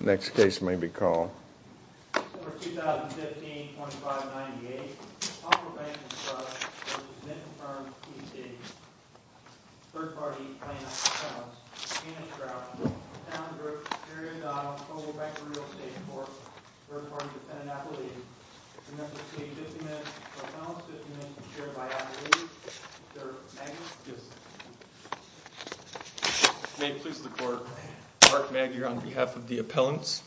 Next case may be called. Summer 2015, 2598. Palmer Bank and Trust v. Zinnton Farms, T.C. Third-party plaintiff's accounts. Anna Stroud, Townsbrook, Arizona, Cobalt Bank Real Estate Corp. Third-party defendant appellee. Remember to take 50 minutes for final assessment, shared by appellees. Sir, Maggie? Yes. May it please the court. Mark Maguire on behalf of the appellants,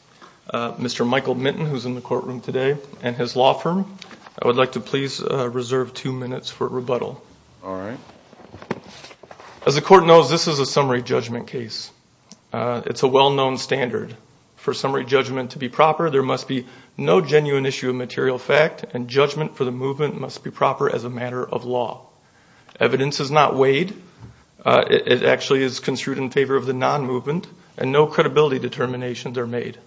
Mr. Michael Minton, who's in the courtroom today, and his law firm. I would like to please reserve two minutes for rebuttal. All right. As the court knows, this is a summary judgment case. It's a well-known standard. For summary judgment to be proper, there must be no genuine issue of material fact, and judgment for the movement must be proper as a matter of law. Evidence is not weighed. It actually is construed in favor of the non-movement, and no credibility determinations are made.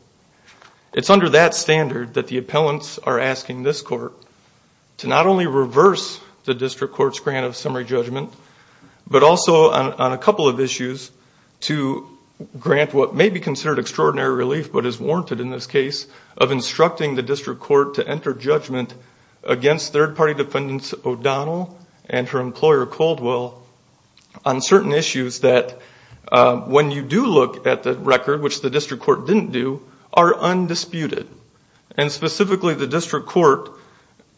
It's under that standard that the appellants are asking this court to not only reverse the district court's grant of summary judgment, but also, on a couple of issues, to grant what may be considered extraordinary relief, but is warranted in this case, of instructing the district court to enter judgment against third-party defendants O'Donnell and her employer, Coldwell, on certain issues that, when you do look at the record, which the district court didn't do, are undisputed. And specifically, the district court,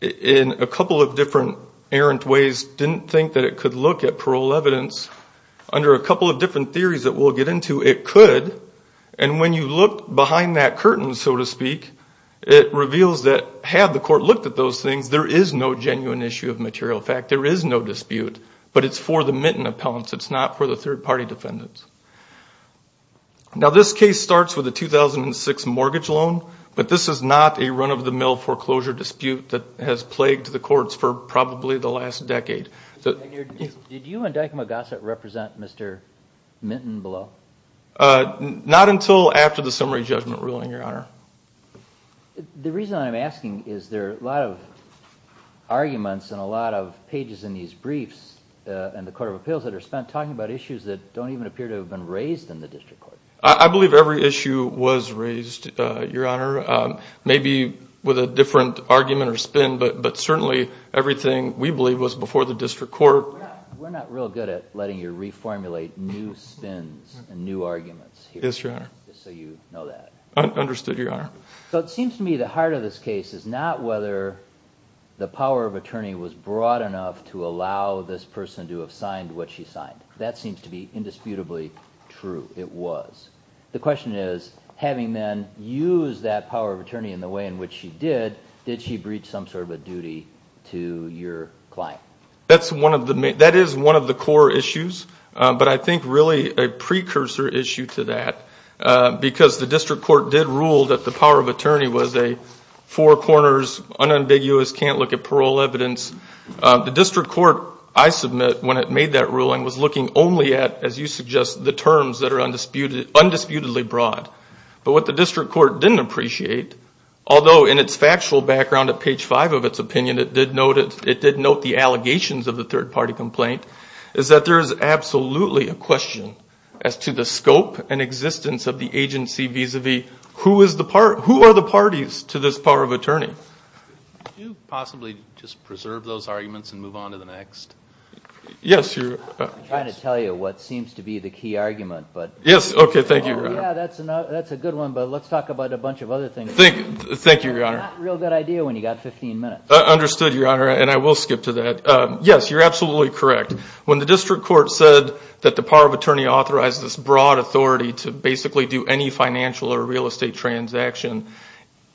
in a couple of different errant ways, didn't think that it could look at parole evidence. Under a couple of different theories that we'll get into, it could. And when you look behind that curtain, so to speak, it reveals that, had the court looked at those things, there is no genuine issue of material fact. There is no dispute, but it's for the Minton appellants. It's not for the third-party defendants. Now, this case starts with a 2006 mortgage loan, but this is not a run-of-the-mill foreclosure dispute that has plagued the courts for probably the last decade. Did you and Dykema Gossett represent Mr. Minton below? Not until after the summary judgment ruling, Your Honor. The reason I'm asking is there are a lot of arguments and a lot of pages in these briefs in the Court of Appeals that are spent talking about issues that don't even appear to have been raised in the district court. I believe every issue was raised, Your Honor, maybe with a different argument or spin, but certainly everything we believe was before the district court. We're not real good at letting you reformulate new spins and new arguments here. Yes, Your Honor. Just so you know that. Understood, Your Honor. So it seems to me the heart of this case is not whether the power of attorney was broad enough to allow this person to have signed what she signed. That seems to be indisputably true. It was. The question is, having then used that power of attorney in the way in which she did, did she breach some sort of a duty to your client? That is one of the core issues, but I think really a precursor issue to that because the district court did rule that the power of attorney was a four corners, unambiguous, can't look at parole evidence. The district court, I submit, when it made that ruling, was looking only at, as you suggest, the terms that are undisputedly broad. But what the district court didn't appreciate, although in its factual background at page five of its opinion, it did note the allegations of the third party complaint, is that there is absolutely a question as to the scope and existence of the agency vis-a-vis who are the parties to this power of attorney. Could you possibly just preserve those arguments and move on to the next? Yes, Your Honor. I'm trying to tell you what seems to be the key argument. Yes, okay, thank you, Your Honor. Yeah, that's a good one, but let's talk about a bunch of other things. Thank you, Your Honor. It's not a real good idea when you've got 15 minutes. Understood, Your Honor, and I will skip to that. Yes, you're absolutely correct. When the district court said that the power of attorney authorized this broad authority to basically do any financial or real estate transaction,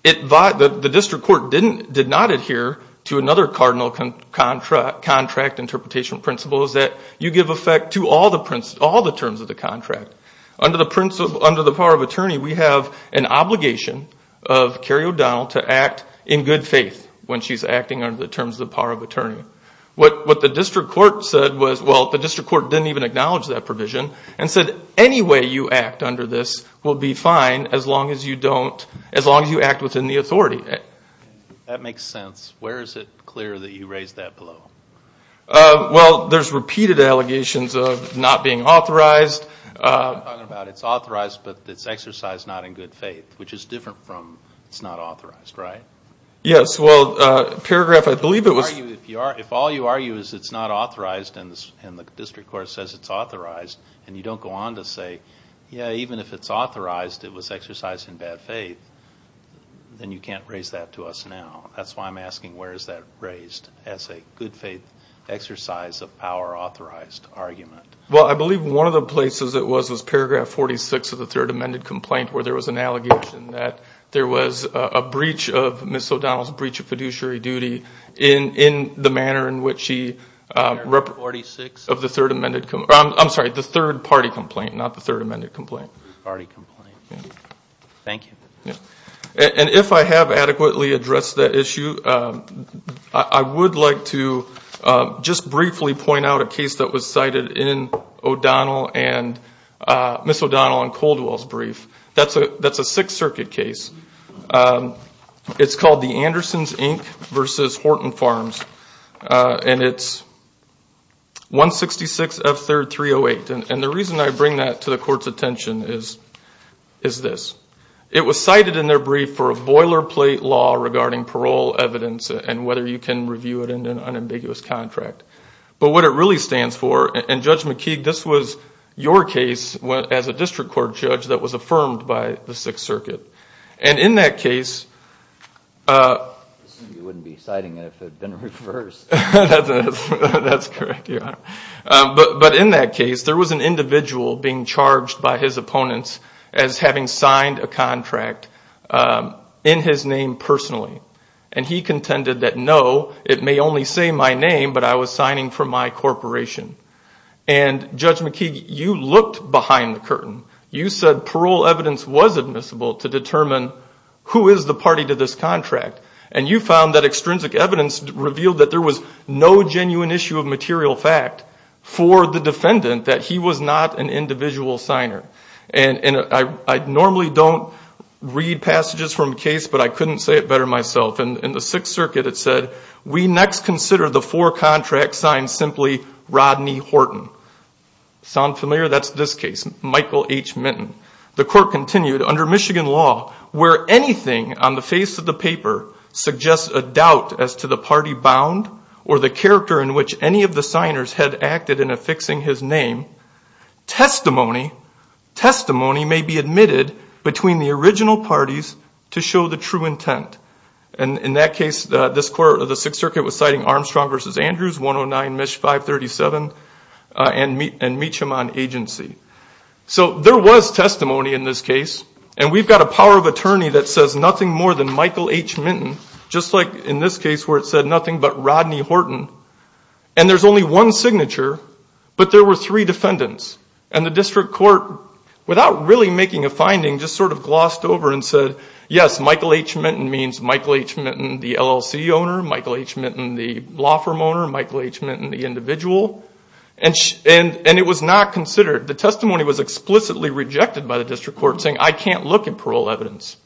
the district court did not adhere to another cardinal contract interpretation principle that you give effect to all the terms of the contract. Under the power of attorney, we have an obligation of Carrie O'Donnell to act in good faith when she's acting under the terms of the power of attorney. What the district court said was, well, the district court didn't even acknowledge that provision and said any way you act under this will be fine as long as you don't, as long as you act within the authority. That makes sense. Where is it clear that you raised that below? Well, there's repeated allegations of not being authorized. I'm talking about it's authorized but it's exercised not in good faith, which is different from it's not authorized, right? Yes. Well, paragraph, I believe it was. If all you argue is it's not authorized and the district court says it's authorized and you don't go on to say, yeah, even if it's authorized, it was exercised in bad faith, then you can't raise that to us now. That's why I'm asking where is that raised as a good faith exercise of power authorized argument. Well, I believe one of the places it was was paragraph 46 of the third amended complaint where there was an allegation that there was a breach of Ms. O'Donnell's breach of fiduciary duty in the manner in which she represented. Paragraph 46? Of the third amended complaint. I'm sorry, the third party complaint, not the third amended complaint. Third party complaint. Thank you. And if I have adequately addressed that issue, I would like to just briefly point out a case that was cited in Ms. O'Donnell and Coldwell's brief. That's a Sixth Circuit case. It's called the Andersons, Inc. v. Horton Farms, and it's 166F3308. And the reason I bring that to the court's attention is this. It was cited in their brief for a boilerplate law regarding parole evidence and whether you can review it in an unambiguous contract. But what it really stands for, and Judge McKeague, this was your case as a district court judge that was affirmed by the Sixth Circuit. And in that case... You wouldn't be citing it if it had been reversed. That's correct, Your Honor. But in that case, there was an individual being charged by his opponents as having signed a contract in his name personally. And he contended that, no, it may only say my name, but I was signing for my corporation. And, Judge McKeague, you looked behind the curtain. You said parole evidence was admissible to determine who is the party to this contract. And you found that extrinsic evidence revealed that there was no genuine issue of material fact for the defendant that he was not an individual signer. And I normally don't read passages from a case, but I couldn't say it better myself. In the Sixth Circuit, it said, We next consider the four contract signs simply Rodney Horton. Sound familiar? That's this case, Michael H. Minton. The court continued, Under Michigan law, where anything on the face of the paper suggests a doubt as to the party bound or the character in which any of the signers had acted in affixing his name, testimony may be admitted between the original parties to show the true intent. And in that case, the Sixth Circuit was citing Armstrong v. Andrews, 109 MISH 537, and Meacham on agency. So there was testimony in this case, and we've got a power of attorney that says nothing more than Michael H. Minton, just like in this case where it said nothing but Rodney Horton. And there's only one signature, but there were three defendants. And the district court, without really making a finding, just sort of glossed over and said, Yes, Michael H. Minton means Michael H. Minton, the LLC owner, Michael H. Minton, the law firm owner, Michael H. Minton, the individual. And it was not considered. The testimony was explicitly rejected by the district court saying, I can't look at parole evidence.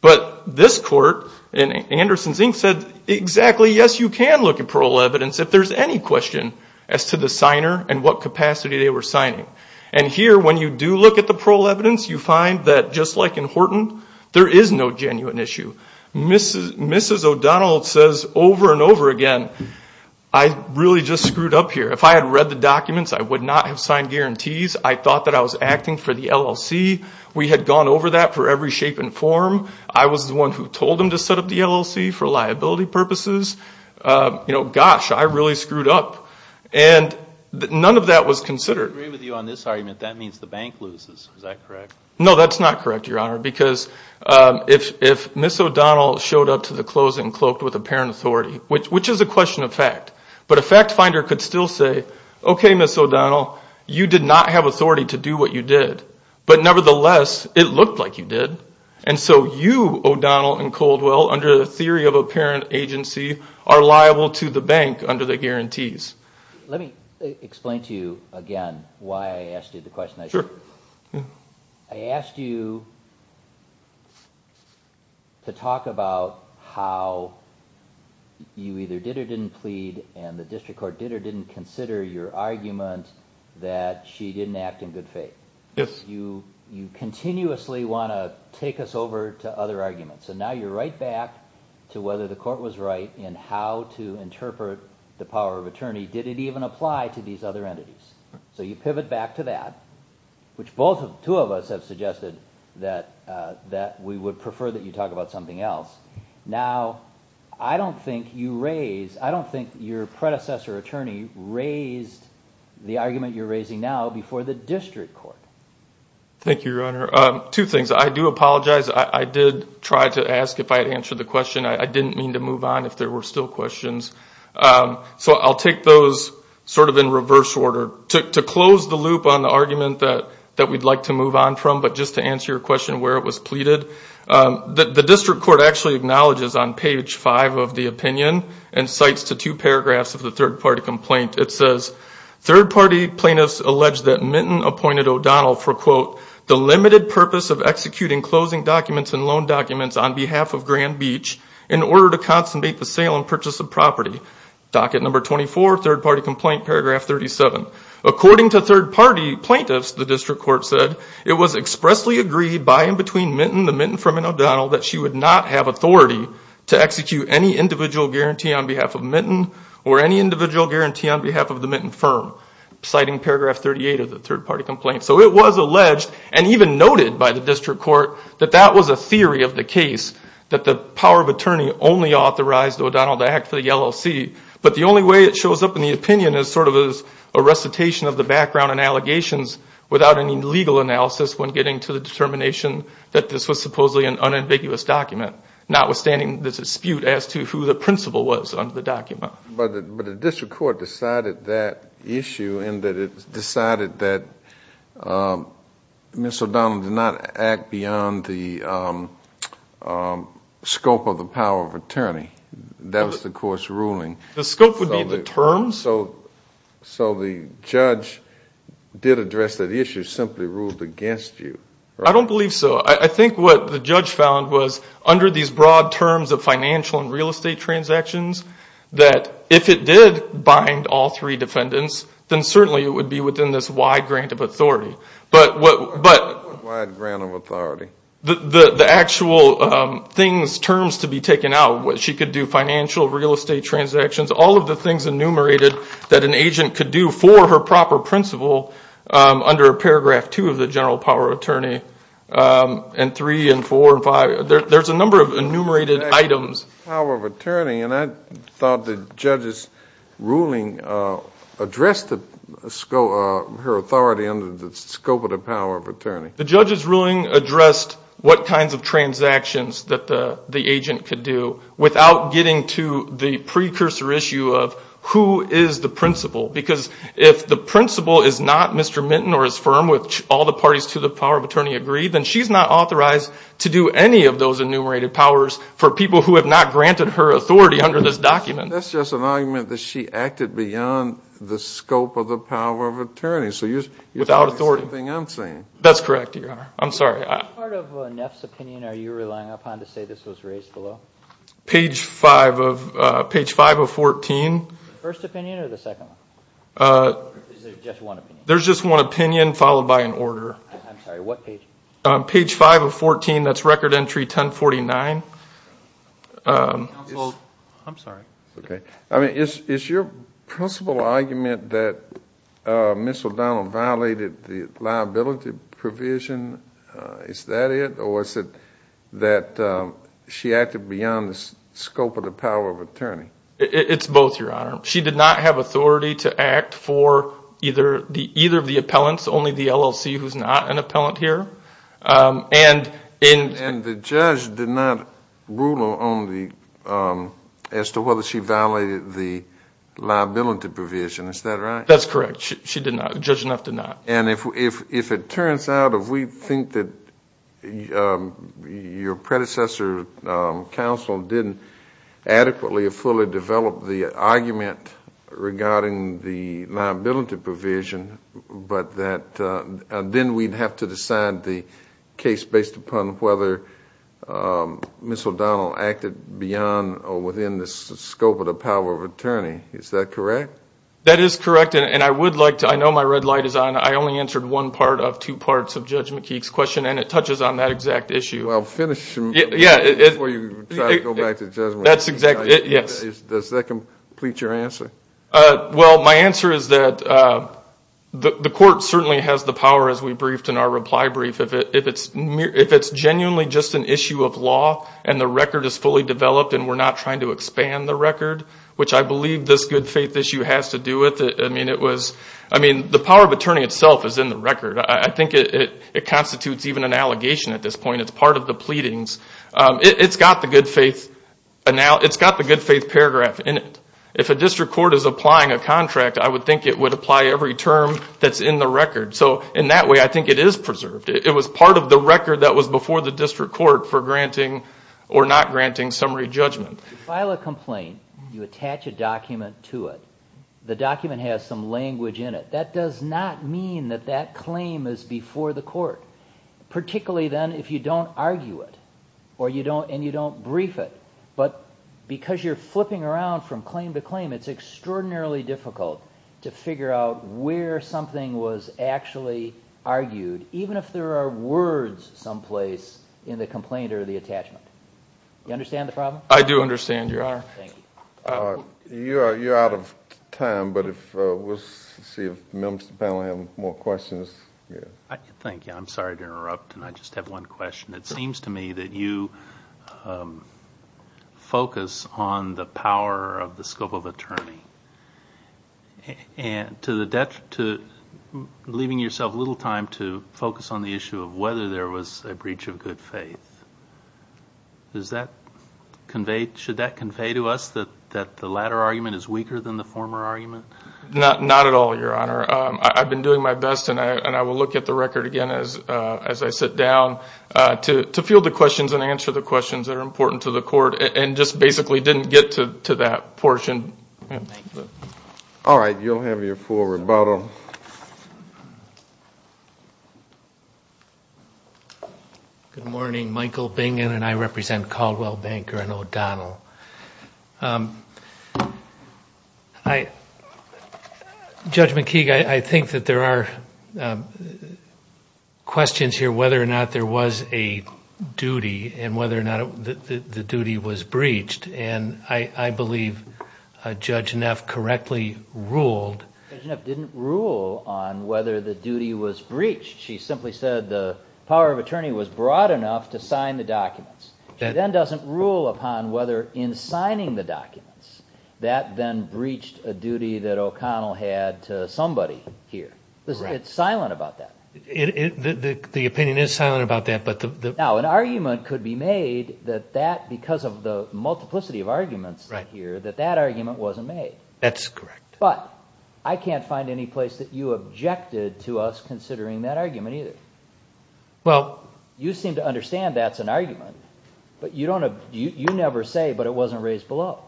But this court in Anderson's Inc. said, Exactly, yes, you can look at parole evidence if there's any question as to the signer and what capacity they were signing. And here, when you do look at the parole evidence, you find that just like in Horton, there is no genuine issue. Mrs. O'Donnell says over and over again, I really just screwed up here. If I had read the documents, I would not have signed guarantees. I thought that I was acting for the LLC. We had gone over that for every shape and form. I was the one who told them to set up the LLC for liability purposes. Gosh, I really screwed up. And none of that was considered. I agree with you on this argument. That means the bank loses. Is that correct? No, that's not correct, Your Honor, because if Mrs. O'Donnell showed up to the closing cloaked with apparent authority, which is a question of fact, but a fact finder could still say, Okay, Mrs. O'Donnell, you did not have authority to do what you did. But nevertheless, it looked like you did. And so you, O'Donnell and Coldwell, under the theory of apparent agency, are liable to the bank under the guarantees. Let me explain to you again why I asked you the question. Sure. I asked you to talk about how you either did or didn't plead and the district court did or didn't consider your argument that she didn't act in good faith. Yes. You continuously want to take us over to other arguments. So now you're right back to whether the court was right in how to interpret the power of attorney. Did it even apply to these other entities? So you pivot back to that, which both two of us have suggested that we would prefer that you talk about something else. Now, I don't think your predecessor attorney raised the argument you're raising now before the district court. Thank you, Your Honor. Two things. I do apologize. I did try to ask if I had answered the question. I didn't mean to move on if there were still questions. So I'll take those sort of in reverse order. To close the loop on the argument that we'd like to move on from, but just to answer your question where it was pleaded, the district court actually acknowledges on page 5 of the opinion and cites the two paragraphs of the third-party complaint. It says, Third-party plaintiffs alleged that Minton appointed O'Donnell for, quote, According to third-party plaintiffs, the district court said, it was expressly agreed by and between Minton, the Minton from O'Donnell, that she would not have authority to execute any individual guarantee on behalf of Minton or any individual guarantee on behalf of the Minton firm, citing paragraph 38 of the third-party complaint. So it was alleged and even noted by the district court that that was a theory of the case, that the power of attorney only authorized O'Donnell to act for the LLC. But the only way it shows up in the opinion is sort of as a recitation of the background and allegations without any legal analysis when getting to the determination that this was supposedly an unambiguous document, notwithstanding the dispute as to who the principal was under the document. But the district court decided that issue in that it decided that Ms. O'Donnell did not act beyond the scope of the power of attorney. That was the court's ruling. The scope would be the terms. So the judge did address that issue, simply ruled against you, right? I don't believe so. I think what the judge found was under these broad terms of financial and real estate transactions, that if it did bind all three defendants, then certainly it would be within this wide grant of authority. But what the actual things, terms to be taken out, she could do financial, real estate transactions, all of the things enumerated that an agent could do for her proper principal under paragraph two of the general power of attorney, and three and four and five, there's a number of enumerated items. The power of attorney, and I thought the judge's ruling addressed her authority under the scope of the power of attorney. The judge's ruling addressed what kinds of transactions that the agent could do without getting to the precursor issue of who is the principal. Because if the principal is not Mr. Minton or his firm, which all the parties to the power of attorney agree, then she's not authorized to do any of those enumerated powers for people who have not granted her authority under this document. That's just an argument that she acted beyond the scope of the power of attorney. So you're saying something I'm saying. That's correct, Your Honor. I'm sorry. Which part of Neff's opinion are you relying upon to say this was raised below? Page five of 14. The first opinion or the second one? There's just one opinion. There's just one opinion followed by an order. I'm sorry. What page? Page five of 14. That's record entry 1049. Counsel, I'm sorry. Okay. Is your principal argument that Ms. O'Donnell violated the liability provision, is that it, or is it that she acted beyond the scope of the power of attorney? It's both, Your Honor. She did not have authority to act for either of the appellants, only the LLC who's not an appellant here. And the judge did not rule as to whether she violated the liability provision. Is that right? That's correct. Judge Neff did not. If it turns out, if we think that your predecessor counsel didn't adequately or fully develop the argument regarding the liability provision, then we'd have to decide the case based upon whether Ms. O'Donnell acted beyond or within the scope of the power of attorney. Is that correct? That is correct. And I would like to, I know my red light is on, I only answered one part of two parts of Judge McKeek's question and it touches on that exact issue. Well, finish before you try to go back to judgment. That's exactly, yes. Does that complete your answer? Well, my answer is that the court certainly has the power, as we briefed in our reply brief, if it's genuinely just an issue of law and the record is fully developed and we're not trying to expand the record, which I believe this good faith issue has to do with. I mean, the power of attorney itself is in the record. I think it constitutes even an allegation at this point. It's part of the pleadings. It's got the good faith paragraph in it. If a district court is applying a contract, I would think it would apply every term that's in the record. So in that way, I think it is preserved. It was part of the record that was before the district court for granting or not granting summary judgment. If you file a complaint, you attach a document to it, the document has some language in it. That does not mean that that claim is before the court, particularly then if you don't argue it and you don't brief it. But because you're flipping around from claim to claim, it's extraordinarily difficult to figure out where something was actually argued, even if there are words someplace in the complaint or the attachment. You understand the problem? I do understand, Your Honor. Thank you. You're out of time, but we'll see if members of the panel have more questions. Thank you. I'm sorry to interrupt, and I just have one question. It seems to me that you focus on the power of the scope of attorney, and to the detriment of leaving yourself little time to focus on the issue of whether there was a breach of good faith. Should that convey to us that the latter argument is weaker than the former argument? Not at all, Your Honor. I've been doing my best, and I will look at the record again as I sit down, to field the questions and answer the questions that are important to the court and just basically didn't get to that portion. All right. You'll have your full rebuttal. Good morning. Michael Bingham, and I represent Caldwell Banker and O'Donnell. Judge McKee, I think that there are questions here whether or not there was a duty and whether or not the duty was breached. I believe Judge Neff correctly ruled... Judge Neff didn't rule on whether the duty was breached. She simply said the power of attorney was broad enough to sign the documents. She then doesn't rule upon whether in signing the documents, that then breached a duty that O'Connell had to somebody here. It's silent about that. The opinion is silent about that. Now, an argument could be made that that, because of the multiplicity of arguments here, that that argument wasn't made. That's correct. But I can't find any place that you objected to us considering that argument either. You seem to understand that's an argument, but you never say, but it wasn't raised below.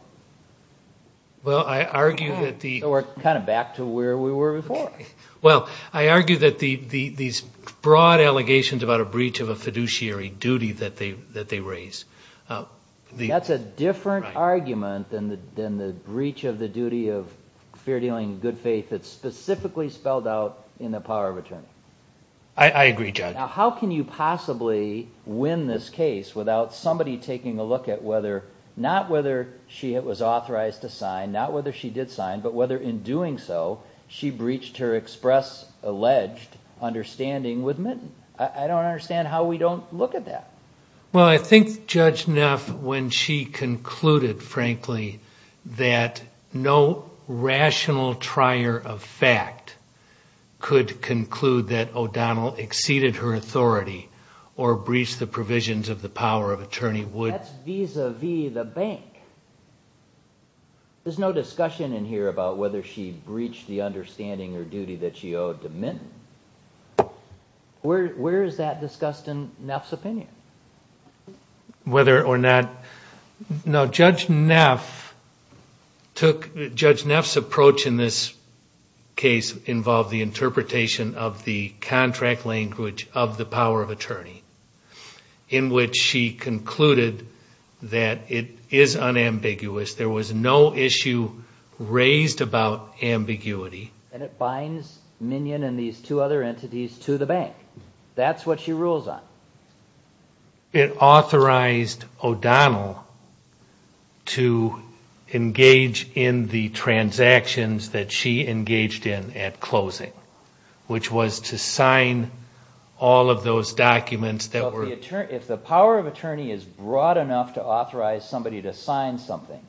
Well, I argue that the... So we're kind of back to where we were before. Well, I argue that these broad allegations about a breach of a fiduciary duty that they raise... That's a different argument than the breach of the duty of fair dealing and good faith that's specifically spelled out in the power of attorney. I agree, Judge. Now, how can you possibly win this case without somebody taking a look at whether... not whether she was authorized to sign, not whether she did sign, but whether in doing so, she breached her express alleged understanding with Minton? I don't understand how we don't look at that. Well, I think Judge Neff, when she concluded, frankly, that no rational trier of fact could conclude that O'Donnell exceeded her authority or breached the provisions of the power of attorney... That's vis-a-vis the bank. There's no discussion in here about whether she breached the understanding or duty that she owed to Minton. Where is that discussed in Neff's opinion? Whether or not... No, Judge Neff took... Judge Neff's approach in this case involved the interpretation of the contract language of the power of attorney in which she concluded that it is unambiguous. There was no issue raised about ambiguity. And it binds Minion and these two other entities to the bank. That's what she rules on. It authorized O'Donnell to engage in the transactions that she engaged in at closing, which was to sign all of those documents that were... If the power of attorney is broad enough to authorize somebody to sign something,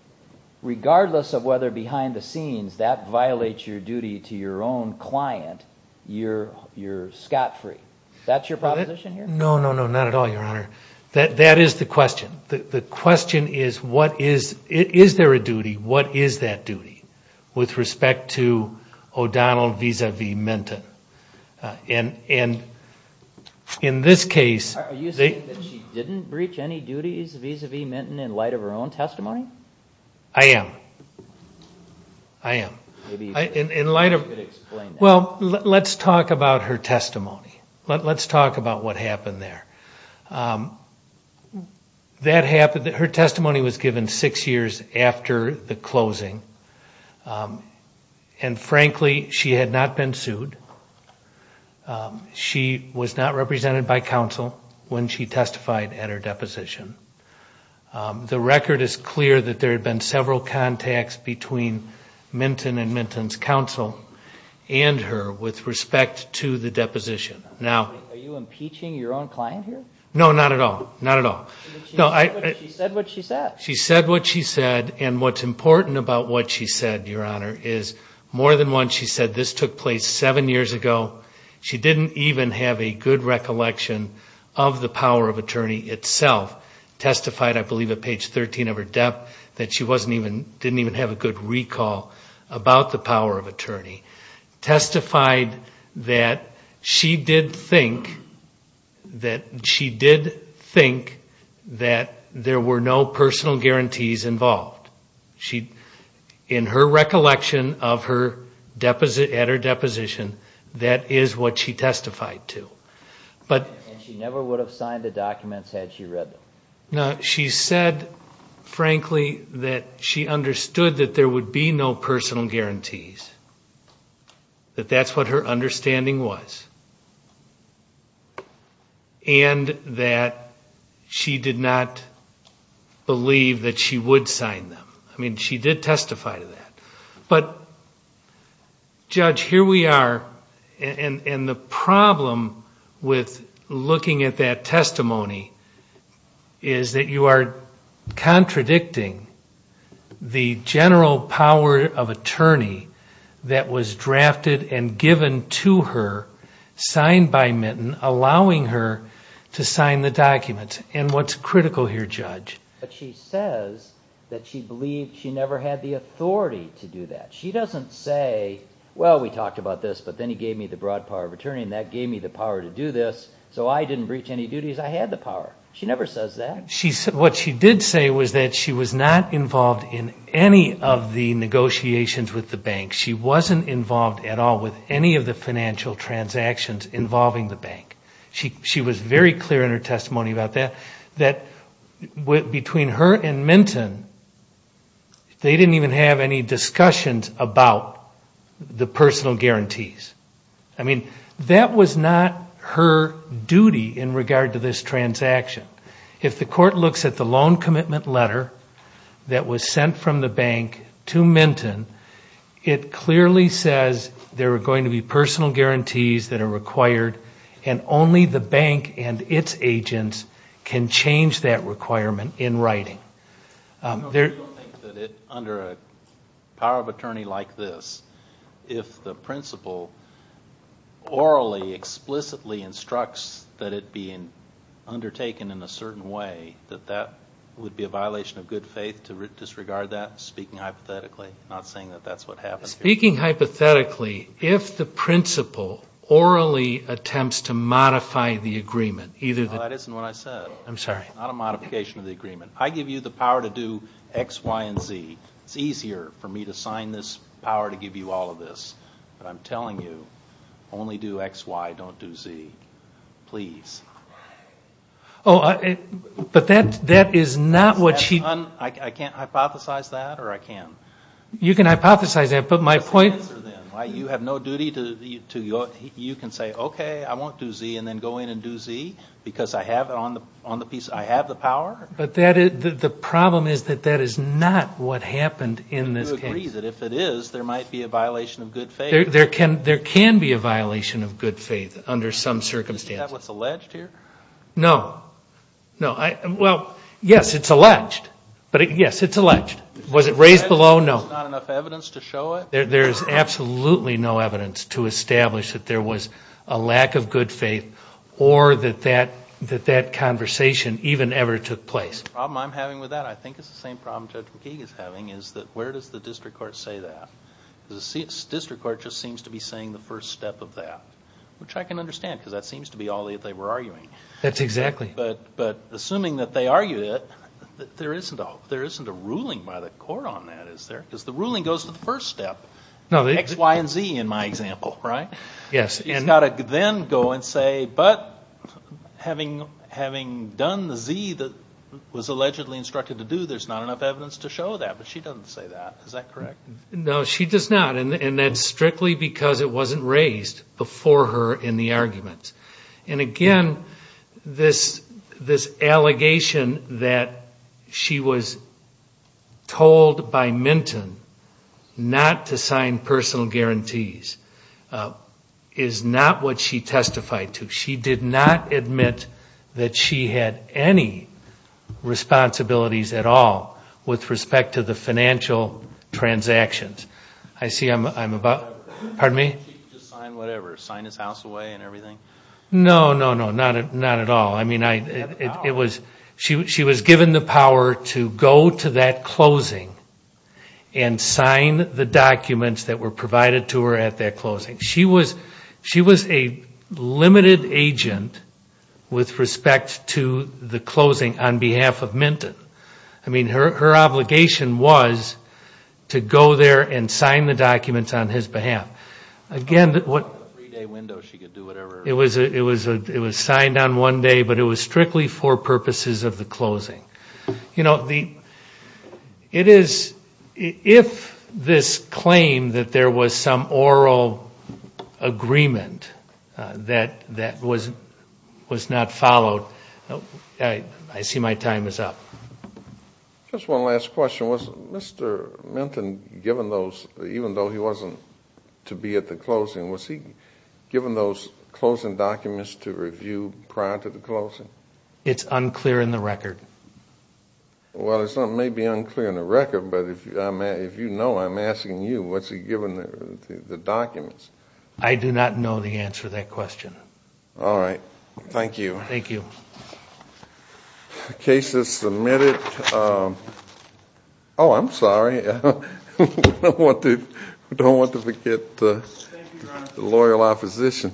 regardless of whether behind the scenes that violates your duty to your own client, you're scot-free. That's your proposition here? No, no, no, not at all, Your Honor. That is the question. The question is what is... Is there a duty? What is that duty with respect to O'Donnell vis-à-vis Minton? And in this case... Are you saying that she didn't breach any duties vis-à-vis Minton in light of her own testimony? I am. I am. Maybe you could explain that. Well, let's talk about her testimony. Let's talk about what happened there. That happened... Her testimony was given six years after the closing, and frankly, she had not been sued. She was not represented by counsel when she testified at her deposition. The record is clear that there had been several contacts between Minton and Minton's counsel and her with respect to the deposition. Are you impeaching your own client here? No, not at all. Not at all. She said what she said. She said what she said, and what's important about what she said, Your Honor, is more than once she said this took place seven years ago. She didn't even have a good recollection of the power of attorney itself. Testified, I believe, at page 13 of her debt that she didn't even have a good recall about the power of attorney. Testified that she did think that there were no personal guarantees involved. In her recollection at her deposition, that is what she testified to. And she never would have signed the documents had she read them? No, she said, frankly, that she understood that there would be no personal guarantees, that that's what her understanding was, and that she did not believe that she would sign them. I mean, she did testify to that. But, Judge, here we are, and the problem with looking at that testimony is that you are contradicting the general power of attorney that was drafted and given to her, signed by Minton, allowing her to sign the documents. But she says that she believed she never had the authority to do that. She doesn't say, well, we talked about this, but then he gave me the broad power of attorney, and that gave me the power to do this, so I didn't breach any duties. I had the power. She never says that. What she did say was that she was not involved in any of the negotiations with the bank. She wasn't involved at all with any of the financial transactions involving the bank. She was very clear in her testimony about that, that between her and Minton, they didn't even have any discussions about the personal guarantees. I mean, that was not her duty in regard to this transaction. If the court looks at the loan commitment letter that was sent from the bank to Minton, it clearly says there are going to be personal guarantees that are required, and only the bank and its agents can change that requirement in writing. You don't think that under a power of attorney like this, if the principal orally, explicitly instructs that it be undertaken in a certain way, that that would be a violation of good faith to disregard that, speaking hypothetically, not saying that that's what happened here? Speaking hypothetically, if the principal orally attempts to modify the agreement, either the- No, that isn't what I said. I'm sorry. Not a modification of the agreement. I give you the power to do X, Y, and Z. It's easier for me to sign this power to give you all of this, but I'm telling you, only do X, Y, don't do Z. Please. Oh, but that is not what she- I can't hypothesize that, or I can? You can hypothesize that, but my point- You have no duty to- you can say, okay, I won't do Z, and then go in and do Z, because I have the power? But the problem is that that is not what happened in this case. Do you agree that if it is, there might be a violation of good faith? There can be a violation of good faith under some circumstances. Is that what's alleged here? No. Well, yes, it's alleged. Yes, it's alleged. Was it raised below? No. There's not enough evidence to show it? There is absolutely no evidence to establish that there was a lack of good faith or that that conversation even ever took place. The problem I'm having with that, I think it's the same problem Judge McKeague is having, is that where does the district court say that? The district court just seems to be saying the first step of that, which I can understand because that seems to be all that they were arguing. That's exactly. But assuming that they argued it, there isn't a ruling by the court on that, is there? Because the ruling goes to the first step, X, Y, and Z in my example, right? Yes. You've got to then go and say, but having done the Z that was allegedly instructed to do, there's not enough evidence to show that. But she doesn't say that. Is that correct? No, she does not. And that's strictly because it wasn't raised before her in the argument. And, again, this allegation that she was told by Minton not to sign personal guarantees is not what she testified to. She did not admit that she had any responsibilities at all with respect to the financial transactions. I see I'm about... Pardon me? She could just sign whatever. Sign his house away and everything? No, no, no. Not at all. I mean, she was given the power to go to that closing and sign the documents that were provided to her at that closing. She was a limited agent with respect to the closing on behalf of Minton. I mean, her obligation was to go there and sign the documents on his behalf. Again, what... Three-day window, she could do whatever. It was signed on one day, but it was strictly for purposes of the closing. You know, it is... If this claim that there was some oral agreement that was not followed... I see my time is up. Just one last question. Was Mr. Minton, even though he wasn't to be at the closing, was he given those closing documents to review prior to the closing? It's unclear in the record. Well, it may be unclear in the record, but if you know, I'm asking you, what's he given the documents? I do not know the answer to that question. All right. Thank you. Thank you. The case is submitted. Oh, I'm sorry. I don't want to forget the loyal opposition.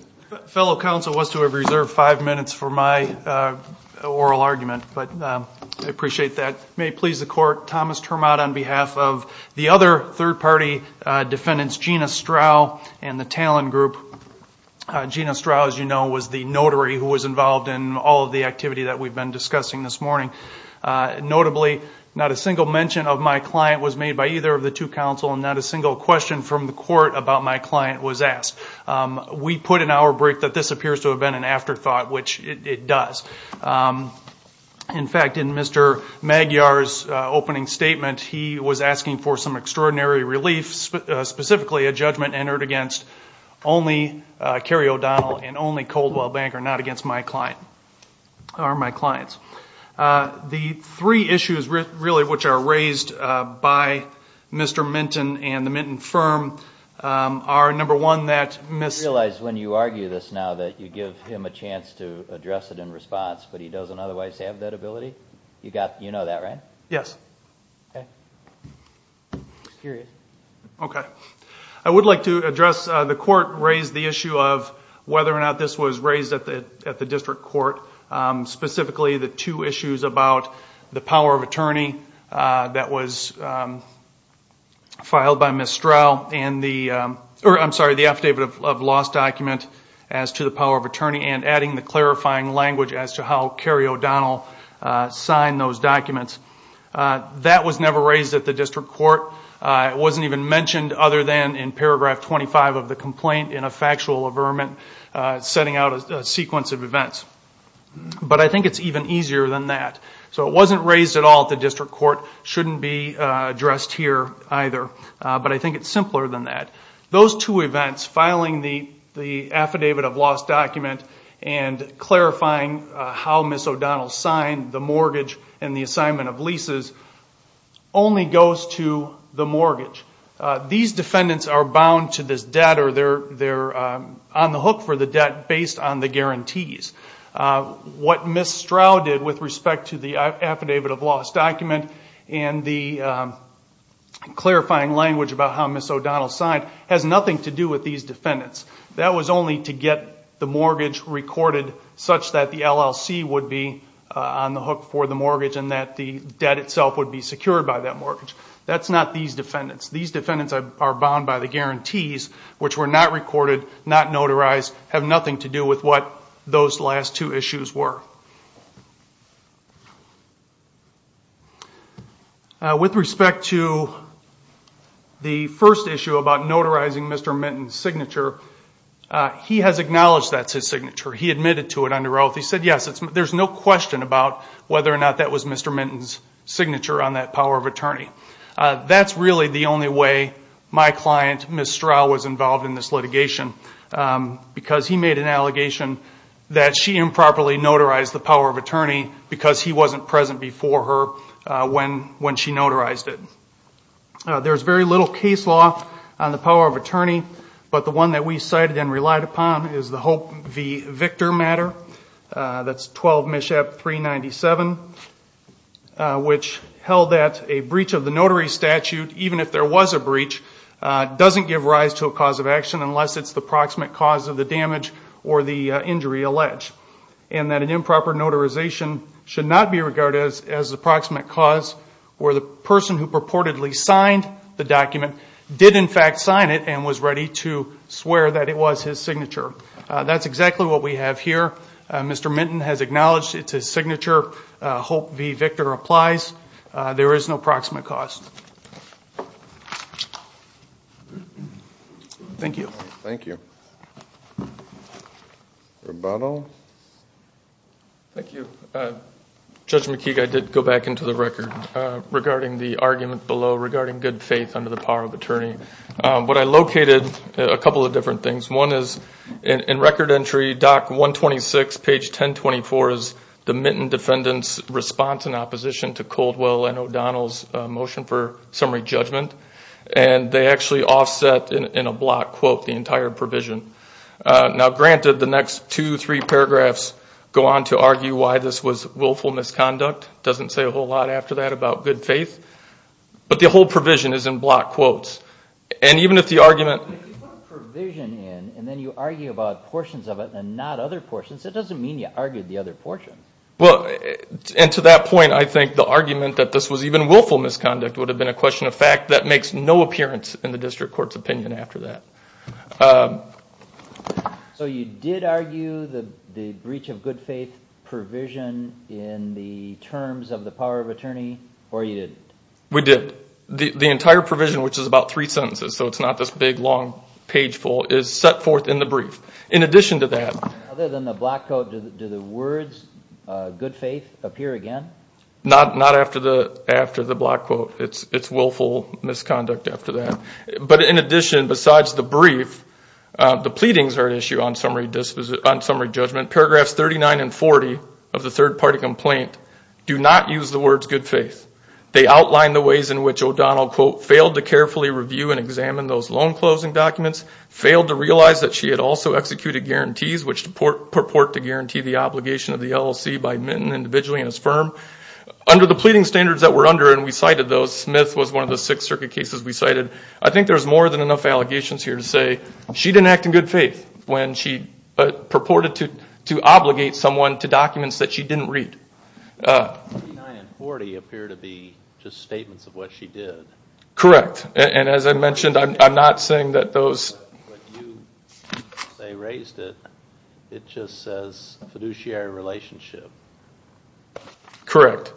Fellow counsel was to have reserved five minutes for my oral argument, but I appreciate that. May it please the Court, Thomas Termod on behalf of the other third-party defendants, Gina Strau and the Talon Group. Gina Strau, as you know, was the notary who was involved in all of the activity that we've been discussing this morning. Notably, not a single mention of my client was made by either of the two counsel and not a single question from the Court about my client was asked. We put an hour break that this appears to have been an afterthought, which it does. In fact, in Mr. Magyar's opening statement, he was asking for some extraordinary relief, specifically a judgment entered against only Cary O'Donnell and only Coldwell Bank are not against my clients. The three issues really which are raised by Mr. Minton and the Minton firm are, number one, that Ms. You realize when you argue this now that you give him a chance to address it in response, but he doesn't otherwise have that ability? You know that, right? Yes. Okay. Okay. I would like to address the Court raised the issue of whether or not this was raised at the District Court, specifically the two issues about the power of attorney that was filed by Ms. Strau and the affidavit of loss document as to the power of attorney and adding the clarifying language as to how Cary O'Donnell signed those documents. That was never raised at the District Court. It wasn't even mentioned other than in paragraph 25 of the complaint in a factual averment setting out a sequence of events. But I think it's even easier than that. So it wasn't raised at all at the District Court. It shouldn't be addressed here either. But I think it's simpler than that. Those two events, filing the affidavit of loss document and clarifying how Ms. O'Donnell signed the mortgage and the assignment of leases only goes to the mortgage. These defendants are bound to this debt or they're on the hook for the debt based on the guarantees. What Ms. Strau did with respect to the affidavit of loss document and the clarifying language about how Ms. O'Donnell signed has nothing to do with these defendants. That was only to get the mortgage recorded such that the LLC would be on the hook for the mortgage and that the debt itself would be secured by that mortgage. That's not these defendants. These defendants are bound by the guarantees, which were not recorded, not notarized, have nothing to do with what those last two issues were. With respect to the first issue about notarizing Mr. Minton's signature, he has acknowledged that's his signature. He admitted to it under oath. He said, yes, there's no question about whether or not that was Mr. Minton's signature on that power of attorney. That's really the only way my client, Ms. Strau, because he made an allegation that she improperly notarized the power of attorney because he wasn't present before her when she notarized it. There's very little case law on the power of attorney, but the one that we cited and relied upon is the Hope v. Victor matter. That's 12 MISHAP 397, which held that a breach of the notary statute, even if there was a breach, doesn't give rise to a cause of action unless it's the proximate cause of the damage or the injury alleged, and that an improper notarization should not be regarded as the proximate cause where the person who purportedly signed the document did, in fact, sign it and was ready to swear that it was his signature. That's exactly what we have here. Mr. Minton has acknowledged it's his signature. Hope v. Victor applies. There is no proximate cause. Thank you. Thank you. Rebuttal. Thank you. Judge McKeague, I did go back into the record regarding the argument below regarding good faith under the power of attorney. What I located are a couple of different things. One is in record entry, Doc 126, page 1024, is the Minton defendant's response in opposition to Coldwell and O'Donnell's motion for summary judgment, and they actually offset in a block quote the entire provision. Now, granted, the next two, three paragraphs go on to argue why this was willful misconduct. It doesn't say a whole lot after that about good faith. But the whole provision is in block quotes. And even if the argument... But if you put provision in and then you argue about portions of it and not other portions, that doesn't mean you argued the other portion. Well, and to that point, I think the argument that this was even willful misconduct would have been a question of fact that makes no appearance in the district court's opinion after that. So you did argue the breach of good faith provision in the terms of the power of attorney, or you didn't? We did. The entire provision, which is about three sentences, so it's not this big, long, page full, is set forth in the brief. In addition to that... Other than the block quote, do the words good faith appear again? Not after the block quote. It's willful misconduct after that. But in addition, besides the brief, the pleadings are at issue on summary judgment. Paragraphs 39 and 40 of the third-party complaint do not use the words good faith. They outline the ways in which O'Donnell quote, failed to carefully review and examine those loan closing documents, failed to realize that she had also executed guarantees which purport to guarantee the obligation of the LLC by Minton individually and his firm. Under the pleading standards that were under, and we cited those, Smith was one of the six circuit cases we cited, I think there's more than enough allegations here to say she didn't act in good faith when she purported to obligate someone to documents that she didn't read. 39 and 40 appear to be just statements of what she did. Correct. And as I mentioned, I'm not saying that those... But you say raised it. It just says fiduciary relationship. Correct.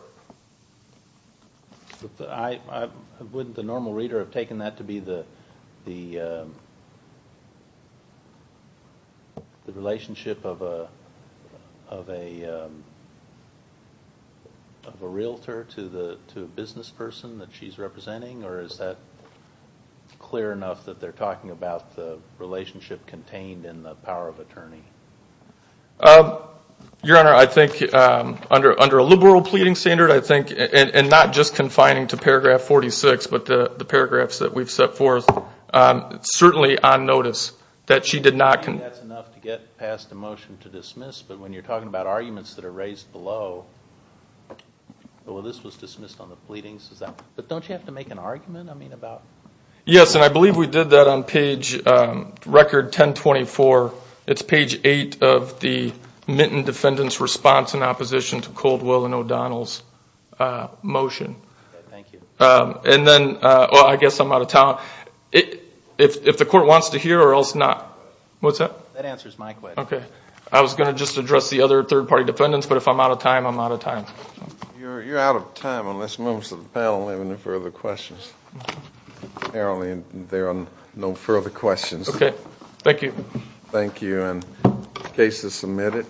Wouldn't the normal reader have taken that to be the relationship of a realtor to a business person that she's representing, or is that clear enough that they're talking about the relationship contained in the power of attorney? Your Honor, I think under a liberal pleading standard, I think, and not just confining to paragraph 46, but the paragraphs that we've set forth, certainly on notice that she did not... I think that's enough to get past the motion to dismiss, but when you're talking about arguments that are raised below, well, this was dismissed on the pleadings, but don't you have to make an argument about... Yes, and I believe we did that on page record 1024. It's page 8 of the Minton defendant's response in opposition to Coldwell and O'Donnell's motion. Thank you. And then, well, I guess I'm out of time. If the court wants to hear or else not... What's that? That answers my question. Okay. I was going to just address the other third-party defendants, but if I'm out of time, I'm out of time. You're out of time unless members of the panel have any further questions. Apparently there are no further questions. Okay. Thank you. Thank you, and case is submitted.